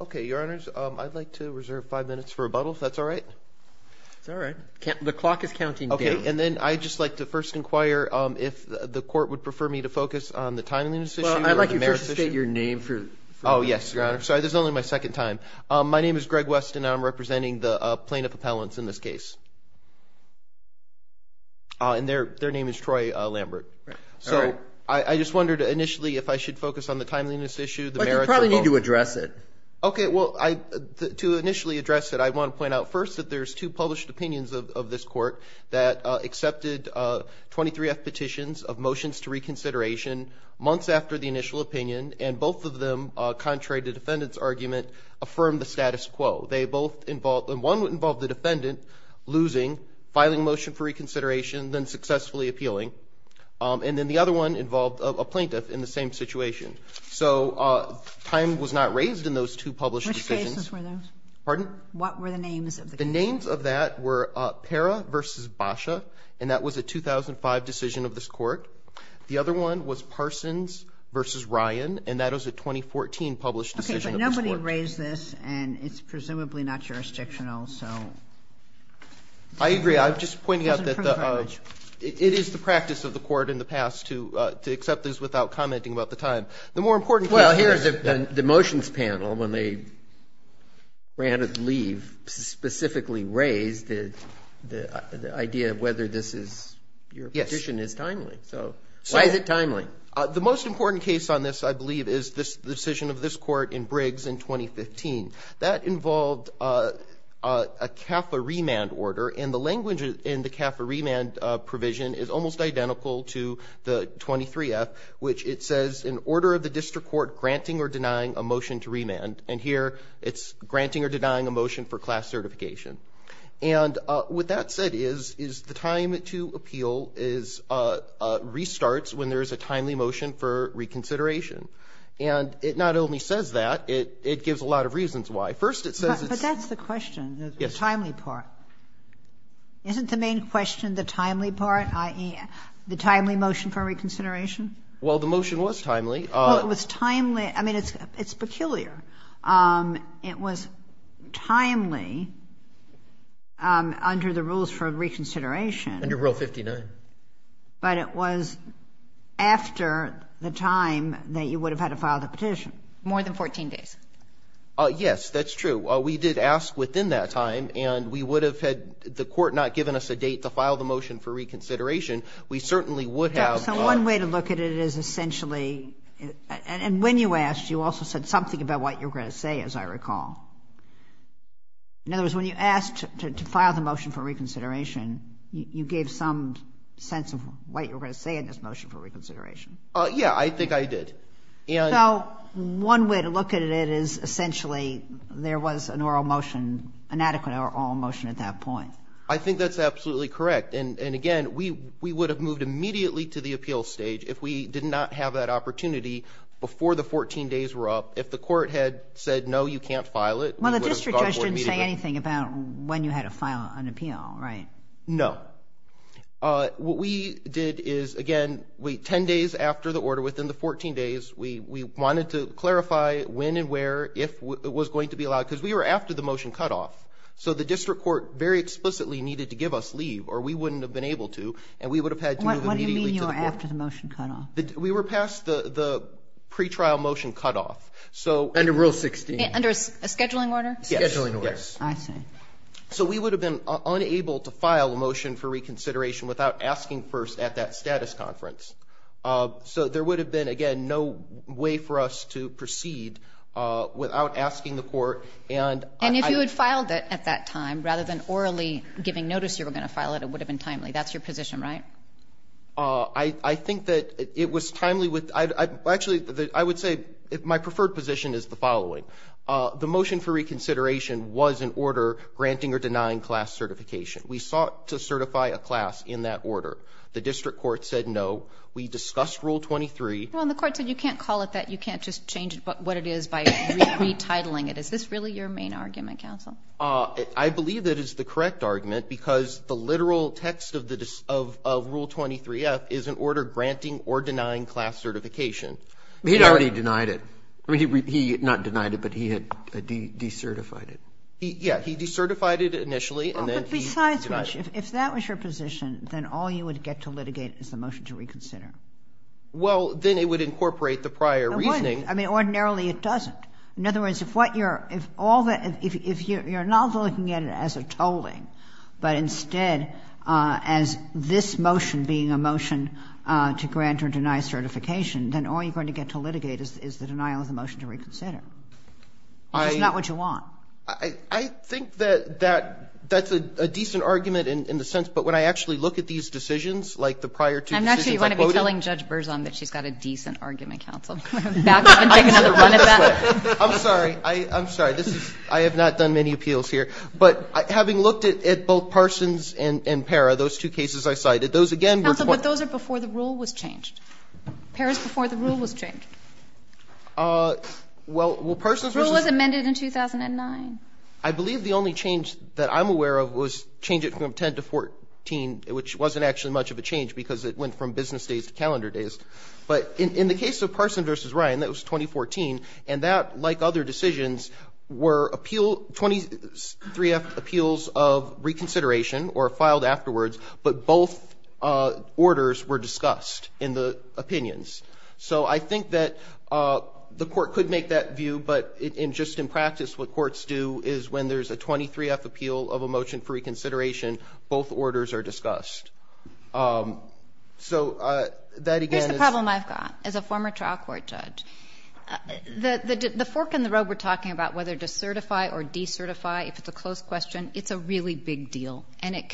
Okay, your honors, I'd like to reserve five minutes for rebuttal, if that's all right. It's all right. The clock is counting down. Okay. And then I'd just like to first inquire if the court would prefer me to focus on the timeliness issue or the merits issue. Well, I'd like you to first state your name for the record. Oh, yes, your honor. Sorry, this is only my second time. My name is Greg West, and I'm representing the plaintiff appellants in this case. And their name is Troy Lambert. All right. You probably need to address it. Okay. Well, to initially address it, I want to point out first that there's two published opinions of this court that accepted 23-F petitions of motions to reconsideration months after the initial opinion. And both of them, contrary to the defendant's argument, affirmed the status quo. They both involved – and one involved the defendant losing, filing a motion for reconsideration, then successfully appealing. And then the other one involved a plaintiff in the same situation. So time was not raised in those two published decisions. Which cases were those? Pardon? What were the names of the cases? The names of that were Parra v. Basha, and that was a 2005 decision of this court. The other one was Parsons v. Ryan, and that was a 2014 published decision of this court. Okay, but nobody raised this, and it's presumably not jurisdictional. I agree. I'm just pointing out that it is the practice of the court in the past to accept this without commenting about the time. The more important thing here is that the motions panel, when they ran at leave, specifically raised the idea of whether this is – your petition is timely. So why is it timely? The most important case on this, I believe, is the decision of this court in Briggs in 2015. That involved a CAFA remand order, and the language in the CAFA remand provision is almost identical to the 23-F, which it says in order of the district court granting or denying a motion to remand. And here it's granting or denying a motion for class certification. And what that said is the time to appeal restarts when there is a timely motion for reconsideration. And it not only says that, it gives a lot of reasons why. First, it says it's – Yes. Isn't the main question the timely part, i.e., the timely motion for reconsideration? Well, the motion was timely. Well, it was timely – I mean, it's peculiar. It was timely under the rules for reconsideration. Under Rule 59. But it was after the time that you would have had to file the petition. More than 14 days. Yes, that's true. We did ask within that time, and we would have had the court not given us a date to file the motion for reconsideration. We certainly would have. So one way to look at it is essentially – and when you asked, you also said something about what you were going to say, as I recall. In other words, when you asked to file the motion for reconsideration, you gave some sense of what you were going to say in this motion for reconsideration. Yeah, I think I did. So one way to look at it is essentially there was an oral motion, an adequate oral motion at that point. I think that's absolutely correct. And again, we would have moved immediately to the appeal stage if we did not have that opportunity before the 14 days were up. If the court had said, no, you can't file it, we would have gone forward immediately. Well, the district judge didn't say anything about when you had to file an appeal, right? No. What we did is, again, 10 days after the order, within the 14 days, we wanted to clarify when and where it was going to be allowed, because we were after the motion cutoff. So the district court very explicitly needed to give us leave, or we wouldn't have been able to, and we would have had to move immediately to the court. What do you mean you were after the motion cutoff? We were past the pretrial motion cutoff. Under Rule 16. Under a scheduling order? Yes. Scheduling order. I see. So we would have been unable to file a motion for reconsideration without asking first at that status conference. So there would have been, again, no way for us to proceed without asking the court. And if you had filed it at that time, rather than orally giving notice you were going to file it, it would have been timely. That's your position, right? I think that it was timely. The motion for reconsideration was an order granting or denying class certification. We sought to certify a class in that order. The district court said no. We discussed Rule 23. Well, and the court said you can't call it that. You can't just change what it is by retitling it. Is this really your main argument, counsel? I believe it is the correct argument, because the literal text of Rule 23-F is an order granting or denying class certification. He'd already denied it. I mean, he not denied it, but he had de-certified it. Yeah. He de-certified it initially, and then he denied it. But besides which, if that was your position, then all you would get to litigate is the motion to reconsider. Well, then it would incorporate the prior reasoning. It wouldn't. I mean, ordinarily it doesn't. In other words, if you're not looking at it as a tolling, but instead as this motion being a motion to grant or deny certification, then all you're going to get to litigate is the denial of the motion to reconsider. That's not what you want. I think that that's a decent argument in the sense, but when I actually look at these decisions, like the prior two decisions I quoted. I'm not sure you want to be telling Judge Berzon that she's got a decent argument, counsel. Back up and take another run at that. I'm sorry. I'm sorry. This is — I have not done many appeals here. But having looked at both Parsons and Parra, those two cases I cited, those again were — Counsel, but those are before the rule was changed. Parra is before the rule was changed. Well, Parsons versus — Rule was amended in 2009. I believe the only change that I'm aware of was change it from 10 to 14, which wasn't actually much of a change because it went from business days to calendar days. But in the case of Parsons versus Ryan, that was 2014. And that, like other decisions, were appeal — 23-F appeals of reconsideration or filed afterwards, but both orders were discussed in the opinions. So I think that the court could make that view. But just in practice, what courts do is when there's a 23-F appeal of a motion for reconsideration, both orders are discussed. So that again is — Here's the problem I've got. As a former trial court judge, the fork in the road we're talking about, whether to certify or decertify, if it's a close question, it's a really big deal. And it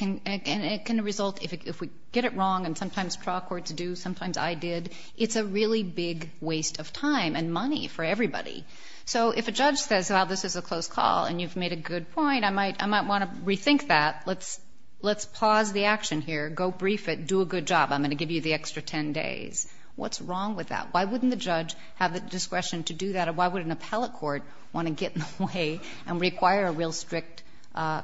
can result — if we get it wrong, and sometimes trial courts do, sometimes I did, it's a really big waste of time and money for everybody. So if a judge says, well, this is a close call and you've made a good point, I might want to rethink that. Let's pause the action here. Go brief it. Do a good job. I'm going to give you the extra 10 days. What's wrong with that? Why wouldn't the judge have the discretion to do that, or why would an appellate court want to get in the way and require a real strict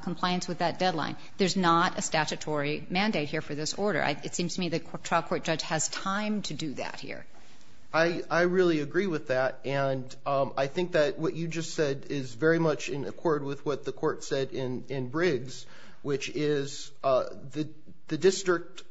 compliance with that deadline? There's not a statutory mandate here for this order. It seems to me the trial court judge has time to do that here. I really agree with that. And I think that what you just said is very much in accord with what the court said in Briggs, which is the district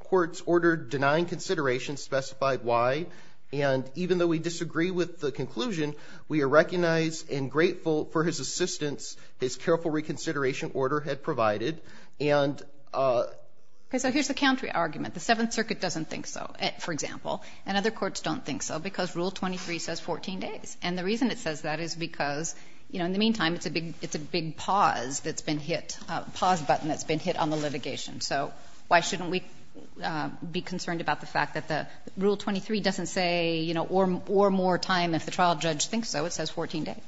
court's order denying consideration specified why. And even though we disagree with the conclusion, we are recognized and grateful for his assistance, his careful reconsideration order had provided. And so here's the counter argument. The Seventh Circuit doesn't think so, for example, and other courts don't think so because Rule 23 says 14 days. And the reason it says that is because, you know, in the meantime, it's a big pause that's been hit, a pause button that's been hit on the litigation. So why shouldn't we be concerned about the fact that the Rule 23 doesn't say, you know, or more time if the trial judge thinks so. It says 14 days.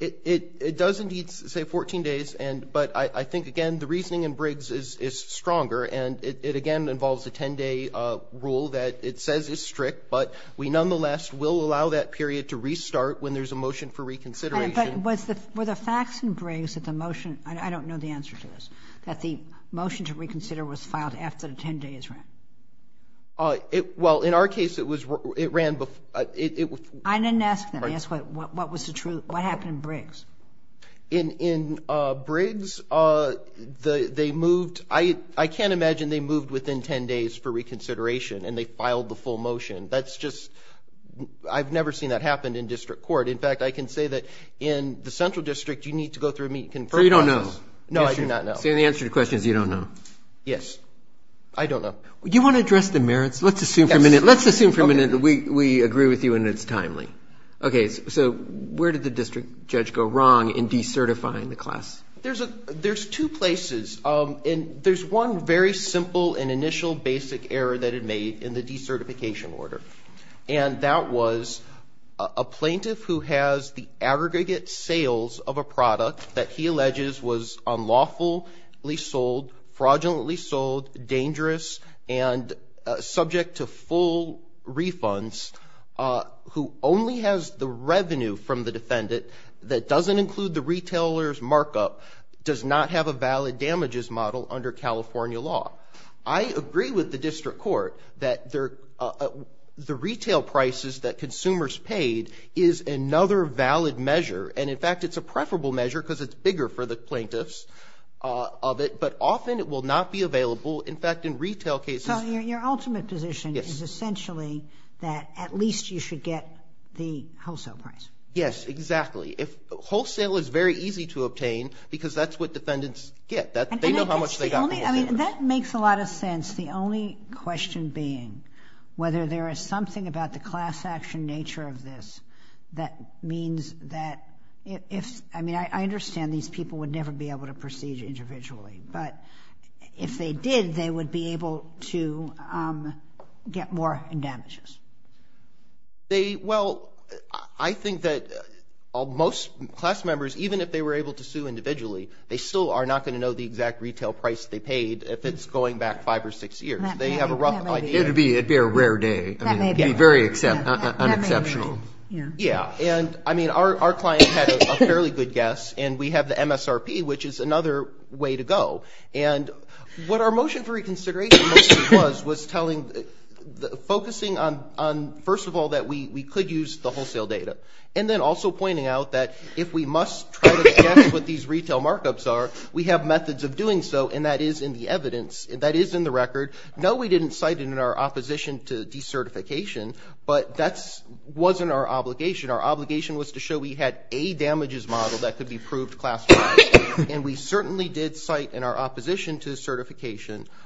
It does indeed say 14 days. But I think, again, the reasoning in Briggs is stronger. And it, again, involves a 10-day rule that it says is strict. But we nonetheless will allow that period to restart when there's a motion for reconsideration. But were the facts in Briggs that the motion – I don't know the answer to this – that the motion to reconsider was filed after the 10 days ran? Well, in our case, it ran before. I didn't ask that. I asked what was the truth. What happened in Briggs? In Briggs, they moved – I can't imagine they moved within 10 days for reconsideration and they filed the full motion. That's just – I've never seen that happen in district court. In fact, I can say that in the central district, you need to go through and meet – So you don't know. No, I do not know. So the answer to the question is you don't know. Yes. I don't know. Do you want to address the merits? Let's assume for a minute. Let's assume for a minute that we agree with you and it's timely. Okay. So where did the district judge go wrong in decertifying the class? There's two places. There's one very simple and initial basic error that it made in the decertification order, and that was a plaintiff who has the aggregate sales of a product that he alleges was unlawfully sold, fraudulently sold, dangerous, and subject to full refunds, who only has the revenue from the defendant that doesn't include the retailer's markup, does not have a valid damages model under California law. I agree with the district court that the retail prices that consumers paid is another valid measure, and in fact it's a preferable measure because it's bigger for the plaintiffs of it, but often it will not be available. In fact, in retail cases. So your ultimate position is essentially that at least you should get the wholesale price. Yes, exactly. Wholesale is very easy to obtain because that's what defendants get. They know how much they got from wholesalers. That makes a lot of sense. The only question being whether there is something about the class action nature of this that means that if – I mean I understand these people would never be able to proceed individually, but if they did they would be able to get more damages. They – well, I think that most class members, even if they were able to sue individually, they still are not going to know the exact retail price they paid if it's going back five or six years. They have a rough idea. That may be it. It would be a rare day. That may be it. It would be very unexceptional. That may be it. Yeah. Yeah. And, I mean, our client had a fairly good guess, and we have the MSRP, which is another way to go. And what our motion for reconsideration mostly was was telling – focusing on, first of all, that we could use the wholesale data and then also pointing out that if we must try to assess what these retail markups are, we have methods of doing so, and that is in the evidence. That is in the record. No, we didn't cite it in our opposition to decertification, but that wasn't our obligation. Our obligation was to show we had a damages model that could be proved classified, and we certainly did cite in our opposition to certification –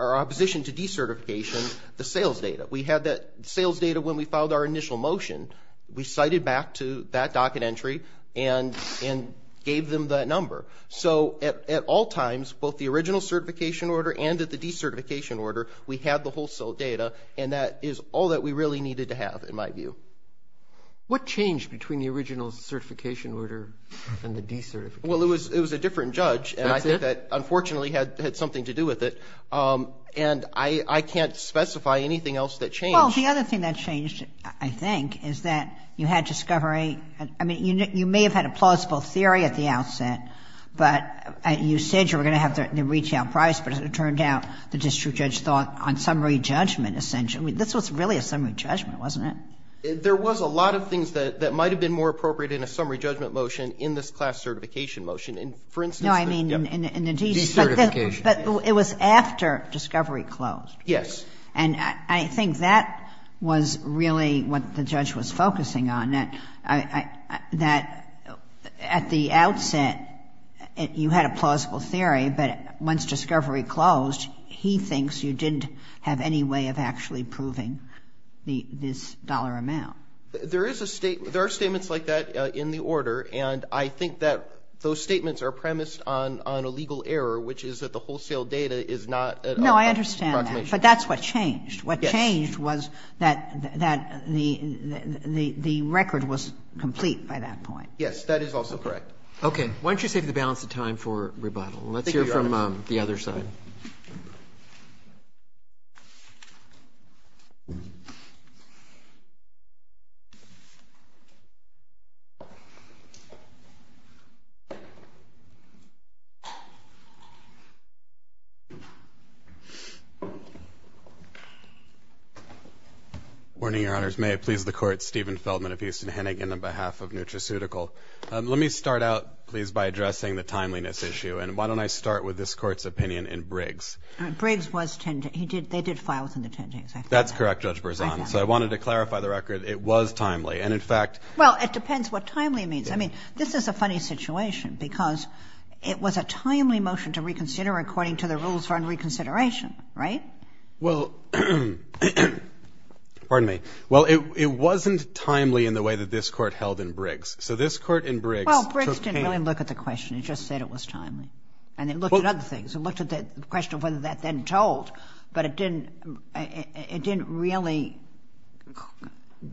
our opposition to decertification the sales data. We had that sales data when we filed our initial motion. We cited back to that docket entry and gave them that number. So at all times, both the original certification order and at the decertification order, we had the wholesale data, and that is all that we really needed to have, in my view. What changed between the original certification order and the decertification order? Well, it was a different judge, and I think that, unfortunately, had something to do with it. And I can't specify anything else that changed. Well, the other thing that changed, I think, is that you had discovery – I mean, you may have had a plausible theory at the outset, but you said you were going to have the retail price, but it turned out the district judge thought on summary judgment, essentially. I mean, this was really a summary judgment, wasn't it? There was a lot of things that might have been more appropriate in a summary judgment motion in this class certification motion. For instance – No, I mean in the – Decertification. But it was after discovery closed. Yes. And I think that was really what the judge was focusing on. That at the outset, you had a plausible theory, but once discovery closed, he thinks you didn't have any way of actually proving this dollar amount. There is a statement – there are statements like that in the order, and I think that those statements are premised on a legal error, which is that the wholesale data is not – No, I understand that, but that's what changed. Yes. What changed was that the record was complete by that point. Yes, that is also correct. Okay. Why don't you save the balance of time for rebuttal? Let's hear from the other side. Thank you. Good morning, Your Honors. May it please the Court, Stephen Feldman of Houston Hennigan on behalf of Nutraceutical. Let me start out, please, by addressing the timeliness issue, and why don't I start with this Court's opinion in Briggs. Briggs was – they did file within the 10 days. That's correct, Judge Berzon. So I wanted to clarify the record. It was timely, and in fact – Well, it depends what timely means. I mean, this is a funny situation because it was a timely motion to reconsider according to the rules for unreconsideration, right? Well – pardon me. Well, it wasn't timely in the way that this Court held in Briggs. So this Court in Briggs took – Well, Briggs didn't really look at the question. It just said it was timely. And it looked at other things. It looked at the question of whether that then told, but it didn't really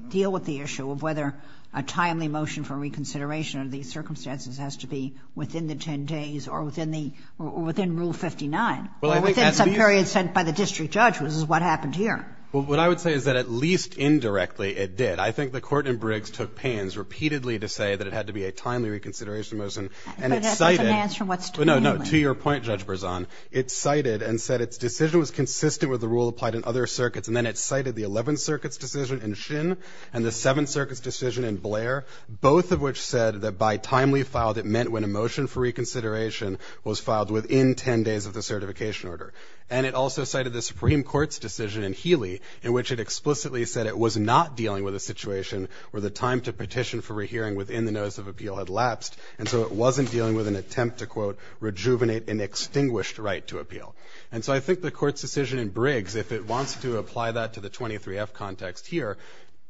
deal with the issue of whether a timely motion for reconsideration under these circumstances has to be within the 10 days or within the – or within Rule 59 or within some period sent by the district judge, which is what happened here. Well, what I would say is that at least indirectly it did. I think the Court in Briggs took pains repeatedly to say that it had to be a timely reconsideration motion. And it cited – But that doesn't answer what's timely. No, no. To your point, Judge Berzon, it cited and said its decision was consistent with the rule applied in other circuits. And then it cited the Eleventh Circuit's decision in Shinn and the Seventh Circuit's decision in Blair, both of which said that by timely filed it meant when a motion for reconsideration was filed within 10 days of the certification order. And it also cited the Supreme Court's decision in Healy in which it explicitly said it was not dealing with a situation where the time to petition for rehearing within the notice of appeal had lapsed. And so it wasn't dealing with an attempt to, quote, rejuvenate an extinguished right to appeal. And so I think the Court's decision in Briggs, if it wants to apply that to the 23F context here,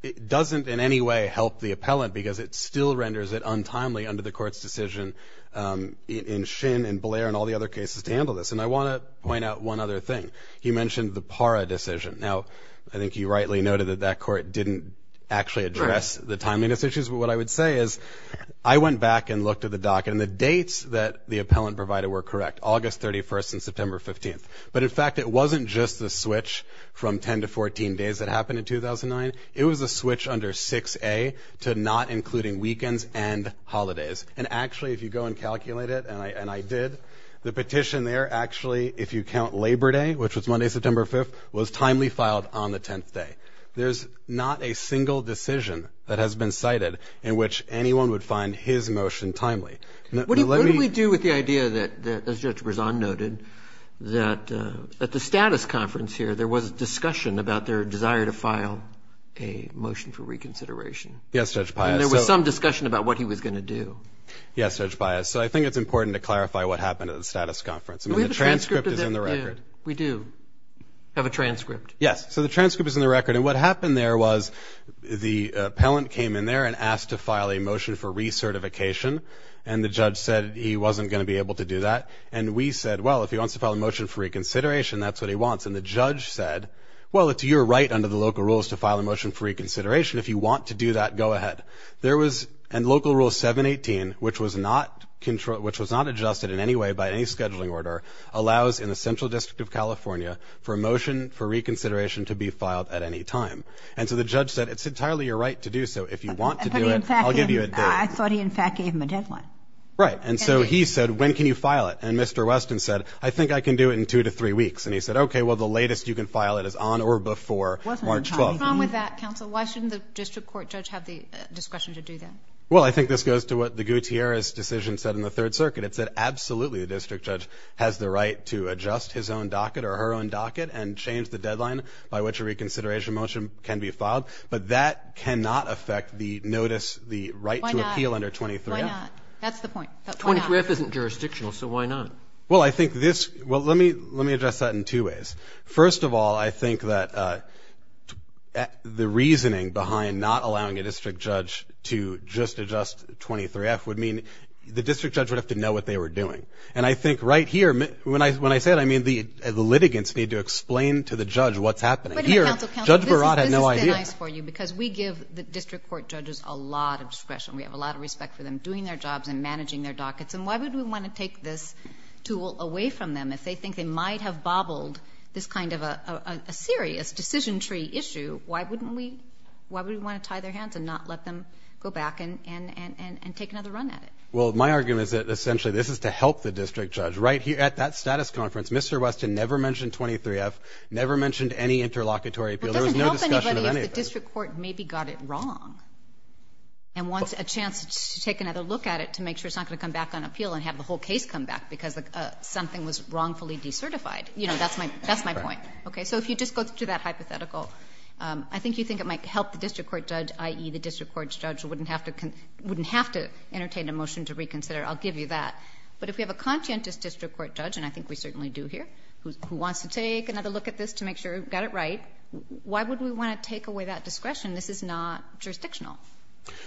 it doesn't in any way help the appellant because it still renders it untimely under the Court's decision in Shinn and Blair and all the other cases to handle this. And I want to point out one other thing. He mentioned the PARA decision. Now, I think you rightly noted that that Court didn't actually address the timeliness issues. But what I would say is I went back and looked at the docket and the dates that the appellant provided were correct, August 31st and September 15th. But, in fact, it wasn't just the switch from 10 to 14 days that happened in 2009. It was a switch under 6A to not including weekends and holidays. And, actually, if you go and calculate it, and I did, the petition there, actually, if you count Labor Day, which was Monday, September 5th, was timely filed on the 10th day. There's not a single decision that has been cited in which anyone would find his motion timely. What do we do with the idea that, as Judge Berzon noted, that at the status conference here there was discussion about their desire to file a motion for reconsideration? Yes, Judge Pius. And there was some discussion about what he was going to do. Yes, Judge Pius. So I think it's important to clarify what happened at the status conference. I mean, the transcript is in the record. We do have a transcript. Yes. So the transcript is in the record. And what happened there was the appellant came in there and asked to file a motion for recertification. And the judge said he wasn't going to be able to do that. And we said, well, if he wants to file a motion for reconsideration, that's what he wants. And the judge said, well, it's your right under the local rules to file a motion for reconsideration. If you want to do that, go ahead. There was, in Local Rule 718, which was not adjusted in any way by any scheduling order, allows in the Central District of California for a motion for reconsideration to be filed at any time. And so the judge said, it's entirely your right to do so. If you want to do it, I'll give you a date. I thought he, in fact, gave him a deadline. Right. And so he said, when can you file it? And Mr. Weston said, I think I can do it in two to three weeks. And he said, okay, well, the latest you can file it is on or before March 12th. What's wrong with that, counsel? Why shouldn't the district court judge have the discretion to do that? Well, I think this goes to what the Gutierrez decision said in the Third Circuit. It said absolutely the district judge has the right to adjust his own docket or her own docket and change the deadline by which a reconsideration motion can be filed. But that cannot affect the notice, the right to appeal under 23-F. Why not? That's the point. But why not? 23-F isn't jurisdictional, so why not? Well, I think this – well, let me address that in two ways. First of all, I think that the reasoning behind not allowing a district judge to just adjust 23-F would mean the district judge would have to know what they were doing. And I think right here, when I say that, I mean the litigants need to explain to the judge what's happening. But, again, counsel, counsel, this has been nice for you because we give the district court judges a lot of discretion. We have a lot of respect for them doing their jobs and managing their dockets. And why would we want to take this tool away from them if they think they might have bobbled this kind of a serious decision tree issue? Why wouldn't we – why would we want to tie their hands and not let them go back and take another run at it? Well, my argument is that, essentially, this is to help the district judge. Right here at that status conference, Mr. Weston never mentioned 23-F, never mentioned any interlocutory appeal. There was no discussion of anything. It doesn't help anybody if the district court maybe got it wrong and wants a chance to take another look at it to make sure it's not going to come back on appeal and have the whole case come back because something was wrongfully decertified. You know, that's my point. Right. Okay. So if you just go through that hypothetical, I think you think it might help the district court judge, i.e., the district court judge wouldn't have to entertain a motion to reconsider. I'll give you that. But if we have a conscientious district court judge, and I think we certainly do here, who wants to take another look at this to make sure it got it right, why would we want to take away that discretion? This is not jurisdictional.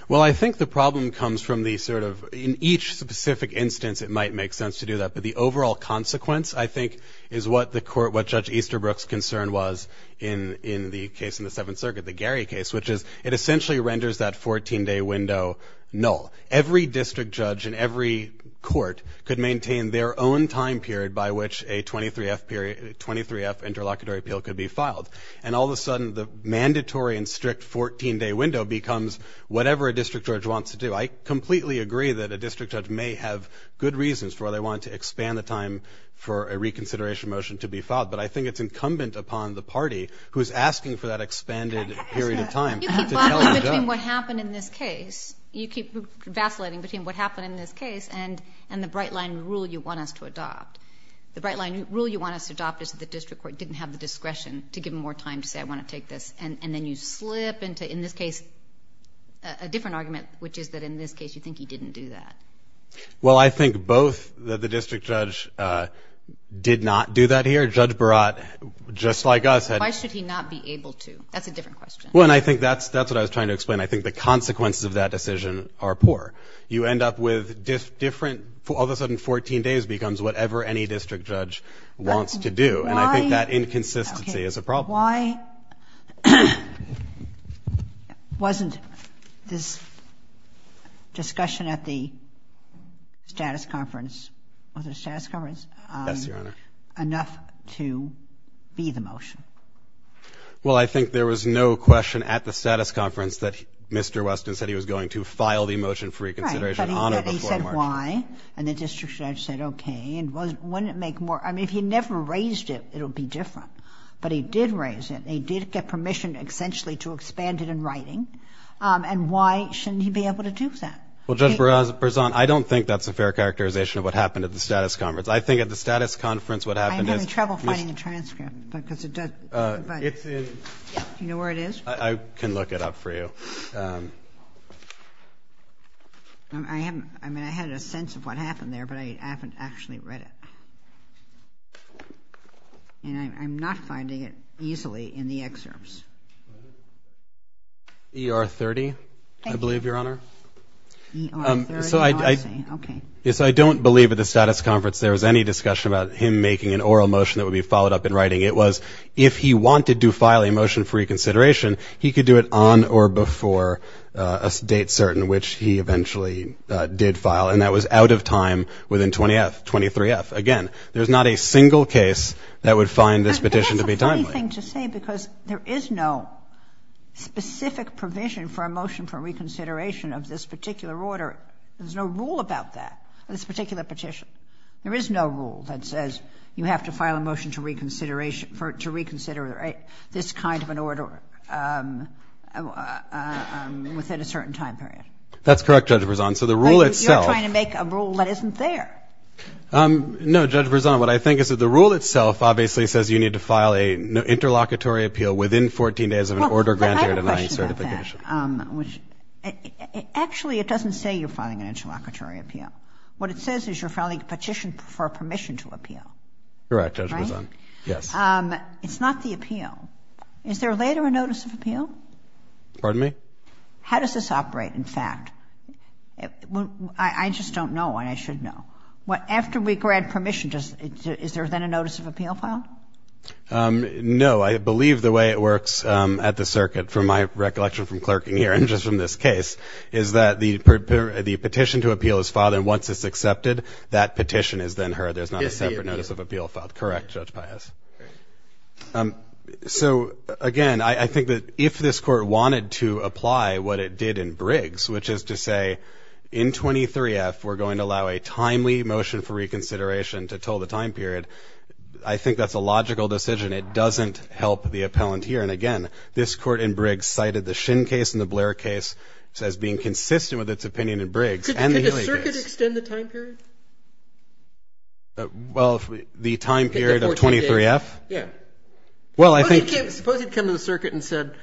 Well, I think the problem comes from the sort of – in each specific instance it might make sense to do that. But the overall consequence, I think, is what the court – what Judge Easterbrook's concern was in the case in the Seventh Circuit, the Gary case, which is it essentially renders that 14-day window null. Every district judge in every court could maintain their own time period by which a 23F interlocutory appeal could be filed. And all of a sudden the mandatory and strict 14-day window becomes whatever a district judge wants to do. I completely agree that a district judge may have good reasons for why they want to expand the time for a reconsideration motion to be filed. But I think it's incumbent upon the party who is asking for that expanded period of time to tell the judge. You keep vacillating between what happened in this case and the bright-line rule you want us to adopt. The bright-line rule you want us to adopt is that the district court didn't have the discretion to give them more time to say, I want to take this. And then you slip into, in this case, a different argument, which is that in this case you think he didn't do that. Well, I think both the district judge did not do that here. Judge Barat, just like us, had to. Why should he not be able to? That's a different question. Well, and I think that's what I was trying to explain. I think the consequences of that decision are poor. You end up with different, all of a sudden 14 days becomes whatever any district And I think that inconsistency is a problem. Why wasn't this discussion at the status conference, was it a status conference? Yes, Your Honor. Enough to be the motion? Well, I think there was no question at the status conference that Mr. Weston said he was going to file the motion for reconsideration on it before he marched. Right, but he said why, and the district judge said okay. And wouldn't it make more, I mean, if he never raised it, it would be different. But he did raise it. He did get permission, essentially, to expand it in writing. And why shouldn't he be able to do that? Well, Judge Berzon, I don't think that's a fair characterization of what happened at the status conference. I think at the status conference what happened is I'm having trouble finding the transcript because it doesn't It's in Do you know where it is? I can look it up for you. I mean, I had a sense of what happened there, but I haven't actually read it. And I'm not finding it easily in the excerpts. ER 30, I believe, Your Honor. ER 30, I see. Okay. So I don't believe at the status conference there was any discussion about him making an oral motion that would be followed up in writing. It was if he wanted to file a motion for reconsideration, he could do it on or before a date certain, which he eventually did file. And that was out of time within 20-F, 23-F. Again, there's not a single case that would find this petition to be timely. But that's a funny thing to say because there is no specific provision for a motion for reconsideration of this particular order. There's no rule about that, this particular petition. There is no rule that says you have to file a motion to reconsider this kind of an order within a certain time period. That's correct, Judge Berzon. So the rule itself You're trying to make a rule that isn't there. No, Judge Berzon, what I think is that the rule itself obviously says you need to file an interlocutory appeal within 14 days of an order granting or denying certification. But I have a question about that. Actually, it doesn't say you're filing an interlocutory appeal. What it says is you're filing a petition for permission to appeal. Correct, Judge Berzon. Right? Yes. It's not the appeal. Is there later a notice of appeal? Pardon me? How does this operate, in fact? I just don't know, and I should know. After we grant permission, is there then a notice of appeal filed? No. I believe the way it works at the circuit, from my recollection from clerking here and just from this case, is that the petition to appeal is filed, and once it's accepted, that petition is then heard. There's not a separate notice of appeal filed. Correct, Judge Pius. So, again, I think that if this Court wanted to apply what it did in Briggs, which is to say in 23-F we're going to allow a timely motion for reconsideration to tell the time period, I think that's a logical decision. It doesn't help the appellant here. And, again, this Court in Briggs cited the Shin case and the Blair case as being consistent with its opinion in Briggs and the Healy case. Could the circuit extend the time period? Well, the time period of 23-F? Yeah. Suppose it came to the circuit and said,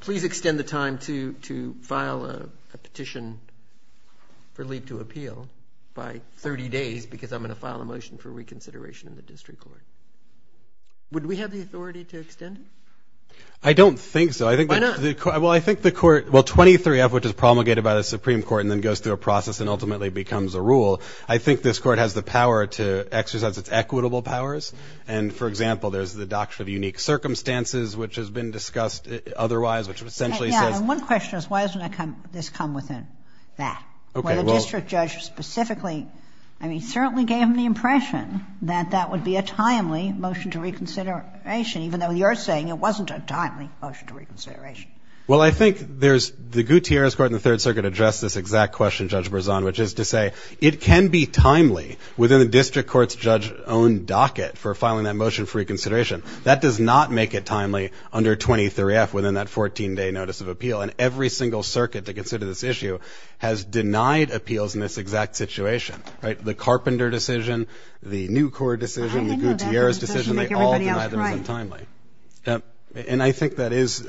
please extend the time to file a petition for leave to appeal by 30 days because I'm going to file a motion for reconsideration in the district court. Would we have the authority to extend it? I don't think so. Why not? Well, I think the Court, well, 23-F, which is promulgated by the Supreme Court and then goes through a process and ultimately becomes a rule, I think this Court has the power to exercise its equitable powers. And, for example, there's the Doctrine of Unique Circumstances, which has been discussed otherwise, which essentially says — Yeah, and one question is why doesn't this come within that? Okay, well — Where the district judge specifically, I mean, certainly gave him the impression that that would be a timely motion to reconsideration, even though you're saying it wasn't a timely motion to reconsideration. Well, I think there's — the Gutierrez Court in the Third Circuit addressed this exact question, Judge Berzon, which is to say it can be timely within the district court's judge-owned docket for filing that motion for reconsideration. That does not make it timely under 23-F within that 14-day notice of appeal. And every single circuit that considered this issue has denied appeals in this exact situation, right? The Carpenter decision, the New Court decision, the Gutierrez decision, they all denied them as untimely. And I think that is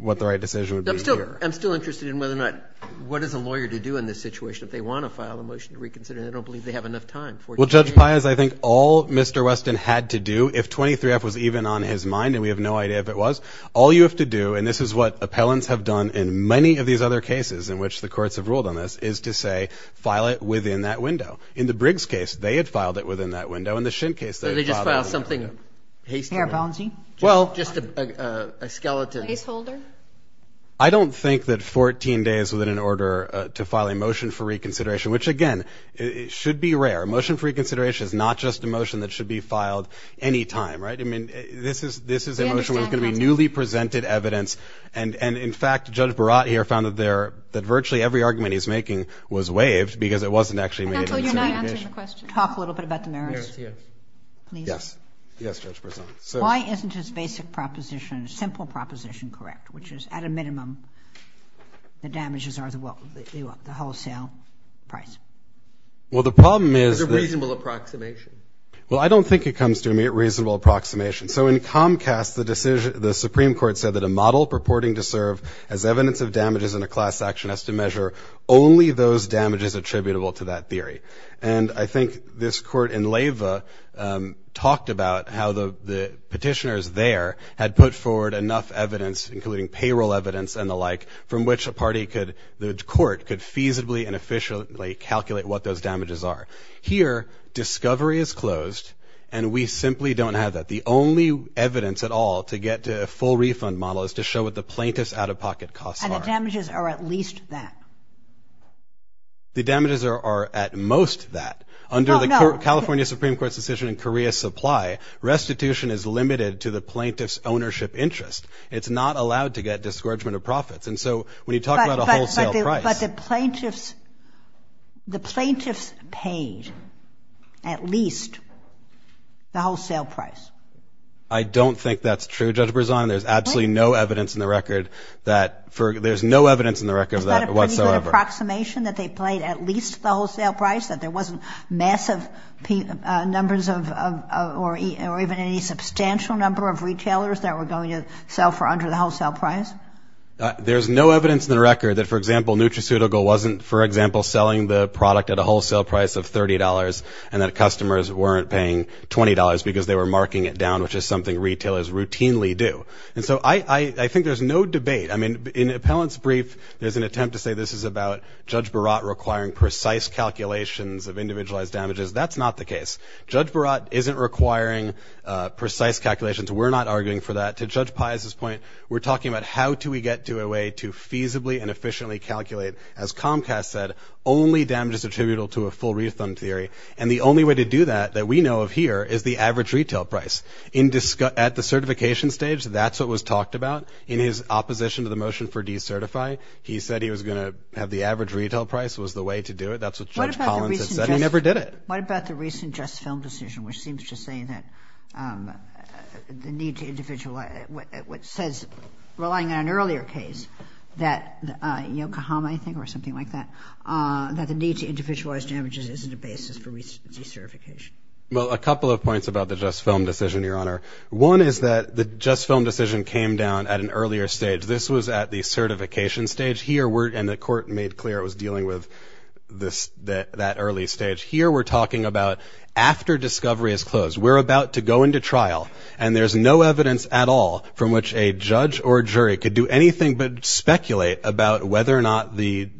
what the right decision would be here. I'm still interested in whether or not — what is a lawyer to do in this situation if they want to file a motion to reconsider and they don't believe they have enough time, 14 days? Well, Judge Paez, I think all Mr. Weston had to do, if 23-F was even on his mind, and we have no idea if it was, all you have to do, and this is what appellants have done in many of these other cases in which the courts have ruled on this, is to say file it within that window. In the Briggs case, they had filed it within that window. In the Schind case, they had filed it within that window. Or they just filed something hastily. Well — Just a skeleton. A caseholder? I don't think that 14 days was in order to file a motion for reconsideration, which, again, should be rare. A motion for reconsideration is not just a motion that should be filed any time, right? I mean, this is a motion that was going to be newly presented evidence. And, in fact, Judge Barat here found that virtually every argument he's making was waived because it wasn't actually made in consideration. Talk a little bit about the merits, please. Yes. Yes, Judge Brazant. Why isn't his basic proposition, simple proposition, correct, which is at a minimum the damages are the wholesale price? Well, the problem is — It's a reasonable approximation. Well, I don't think it comes to a reasonable approximation. So in Comcast, the Supreme Court said that a model purporting to serve as evidence of damages in a class action has to measure only those damages attributable to that theory. And I think this court in Leyva talked about how the petitioners there had put forward enough evidence, including payroll evidence and the like, from which a party could — the court could feasibly and efficiently calculate what those damages are. Here, discovery is closed, and we simply don't have that. The only evidence at all to get to a full refund model is to show what the plaintiff's out-of-pocket costs are. And the damages are at least that. The damages are at most that. Under the California Supreme Court's decision in Korea's supply, restitution is limited to the plaintiff's ownership interest. It's not allowed to get discouragement of profits. And so when you talk about a wholesale price — But the plaintiffs — the plaintiffs paid at least the wholesale price. I don't think that's true, Judge Brazant. There's absolutely no evidence in the record that — Is there an approximation that they paid at least the wholesale price, that there wasn't massive numbers of — or even any substantial number of retailers that were going to sell for under the wholesale price? There's no evidence in the record that, for example, Nutraceutical wasn't, for example, selling the product at a wholesale price of $30, and that customers weren't paying $20 because they were marking it down, which is something retailers routinely do. And so I think there's no debate. I mean, in Appellant's brief, there's an attempt to say this is about Judge Barat requiring precise calculations of individualized damages. That's not the case. Judge Barat isn't requiring precise calculations. We're not arguing for that. To Judge Pius's point, we're talking about how do we get to a way to feasibly and efficiently calculate, as Comcast said, only damages attributable to a full refund theory. And the only way to do that that we know of here is the average retail price. At the certification stage, that's what was talked about. In his opposition to the motion for decertify, he said he was going to have the average retail price was the way to do it. That's what Judge Collins has said. He never did it. What about the recent JustFilm decision, which seems to say that the need to individualize, which says, relying on an earlier case, that Yokohama, I think, or something like that, that the need to individualize damages isn't a basis for recertification? Well, a couple of points about the JustFilm decision, Your Honor. One is that the JustFilm decision came down at an earlier stage. This was at the certification stage. And the court made clear it was dealing with that early stage. Here we're talking about after discovery is closed. We're about to go into trial, and there's no evidence at all from which a judge or jury could do anything but speculate about whether or not the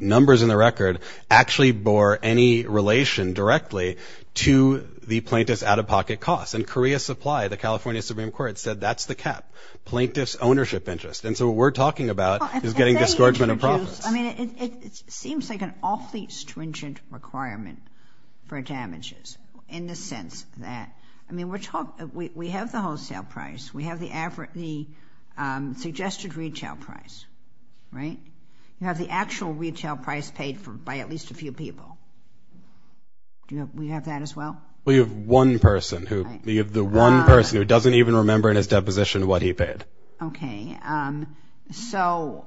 numbers in the record actually bore any relation directly to the plaintiff's out-of-pocket costs. And Korea Supply, the California Supreme Court, said that's the cap, plaintiff's ownership interest. And so what we're talking about is getting disgorgement of profits. I mean, it seems like an awfully stringent requirement for damages in the sense that, I mean, we have the wholesale price. We have the suggested retail price, right? We have the actual retail price paid by at least a few people. Do we have that as well? We have one person who doesn't even remember in his deposition what he paid. Okay. So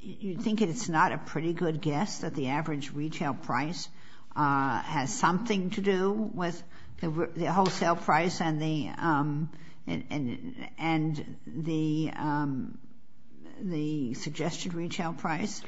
you think it's not a pretty good guess that the average retail price has something to do with the wholesale price and the suggested retail price?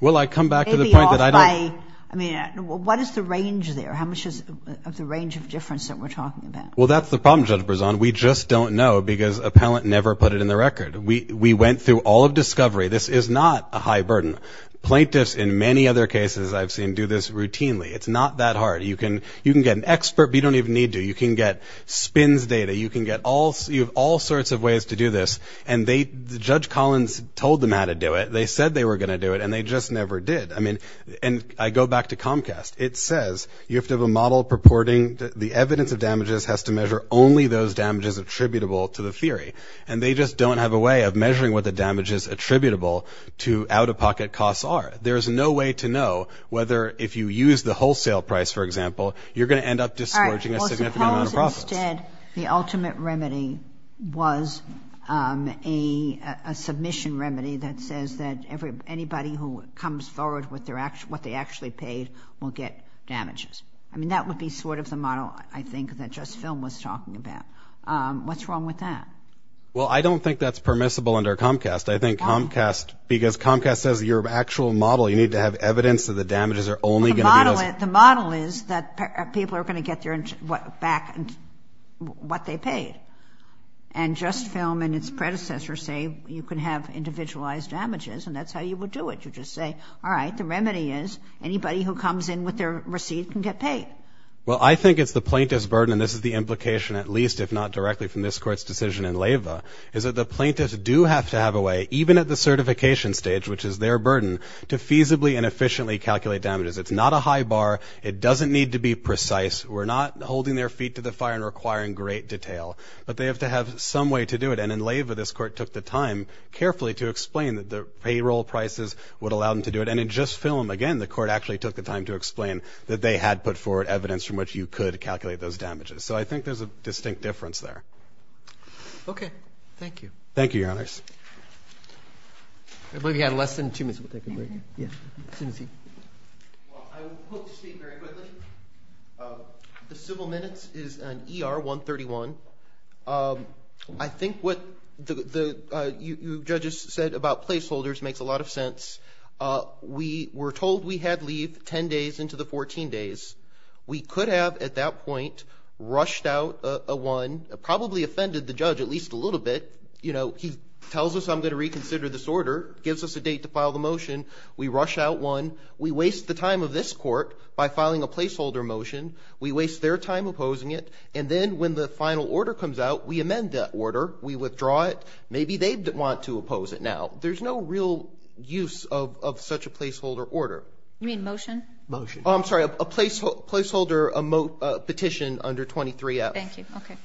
Well, I come back to the point that I don't... Maybe off by, I mean, what is the range there? How much is the range of difference that we're talking about? Well, that's the problem, Judge Brezon. We just don't know because appellant never put it in the record. We went through all of discovery. This is not a high burden. Plaintiffs in many other cases I've seen do this routinely. It's not that hard. You can get an expert, but you don't even need to. You can get spins data. You can get all sorts of ways to do this. And Judge Collins told them how to do it. They said they were going to do it, and they just never did. I mean, and I go back to Comcast. It says you have to have a model purporting the evidence of damages has to measure only those damages attributable to the theory. And they just don't have a way of measuring what the damages attributable to out-of-pocket costs are. There is no way to know whether if you use the wholesale price, for example, you're going to end up discharging a significant amount of profits. Instead, the ultimate remedy was a submission remedy that says that anybody who comes forward with what they actually paid will get damages. I mean, that would be sort of the model, I think, that Just Film was talking about. What's wrong with that? Well, I don't think that's permissible under Comcast. I think Comcast, because Comcast says your actual model, you need to have evidence that the damages are only going to be those. But the model is that people are going to get back what they paid. And Just Film and its predecessors say you can have individualized damages, and that's how you would do it. You just say, all right, the remedy is anybody who comes in with their receipt can get paid. Well, I think it's the plaintiff's burden, and this is the implication at least, if not directly from this Court's decision in Leyva, is that the plaintiffs do have to have a way, even at the certification stage, which is their burden, to feasibly and efficiently calculate damages. It's not a high bar. It doesn't need to be precise. We're not holding their feet to the fire and requiring great detail. But they have to have some way to do it. And in Leyva, this Court took the time carefully to explain that the payroll prices would allow them to do it. And in Just Film, again, the Court actually took the time to explain that they had put forward evidence from which you could calculate those damages. So I think there's a distinct difference there. Okay. Thank you. Thank you, Your Honors. I believe you had less than two minutes. We'll take a break. Yeah. Well, I hope to speak very quickly. The civil minutes is on ER 131. I think what you judges said about placeholders makes a lot of sense. We were told we had leave 10 days into the 14 days. We could have, at that point, rushed out a one, probably offended the judge at least a little bit. You know, he tells us I'm going to reconsider this order, gives us a date to file the motion. We rush out one. We waste the time of this Court by filing a placeholder motion. We waste their time opposing it. And then when the final order comes out, we amend that order. We withdraw it. Maybe they want to oppose it now. There's no real use of such a placeholder order. You mean motion? Motion. I'm sorry, a placeholder petition under 23-F. Thank you. Okay.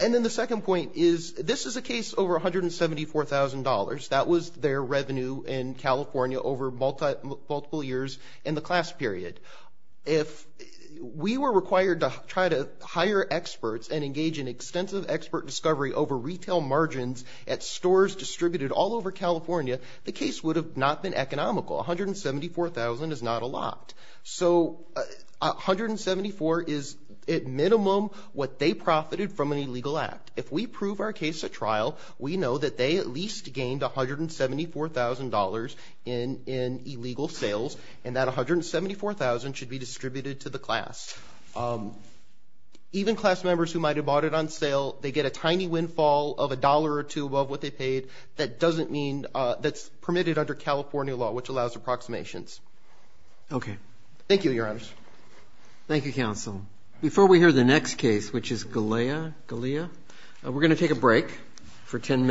And then the second point is this is a case over $174,000. That was their revenue in California over multiple years in the class period. If we were required to try to hire experts and engage in extensive expert discovery over retail margins at stores distributed all over California, the case would have not been economical. $174,000 is not a lot. So $174,000 is, at minimum, what they profited from an illegal act. If we prove our case at trial, we know that they at least gained $174,000 in illegal sales, and that $174,000 should be distributed to the class. Even class members who might have bought it on sale, they get a tiny windfall of $1 or $2 above what they paid. That doesn't mean that's permitted under California law, which allows approximations. Okay. Thank you, Your Honors. Thank you, Counsel. Before we hear the next case, which is Galea, we're going to take a break for 10 minutes.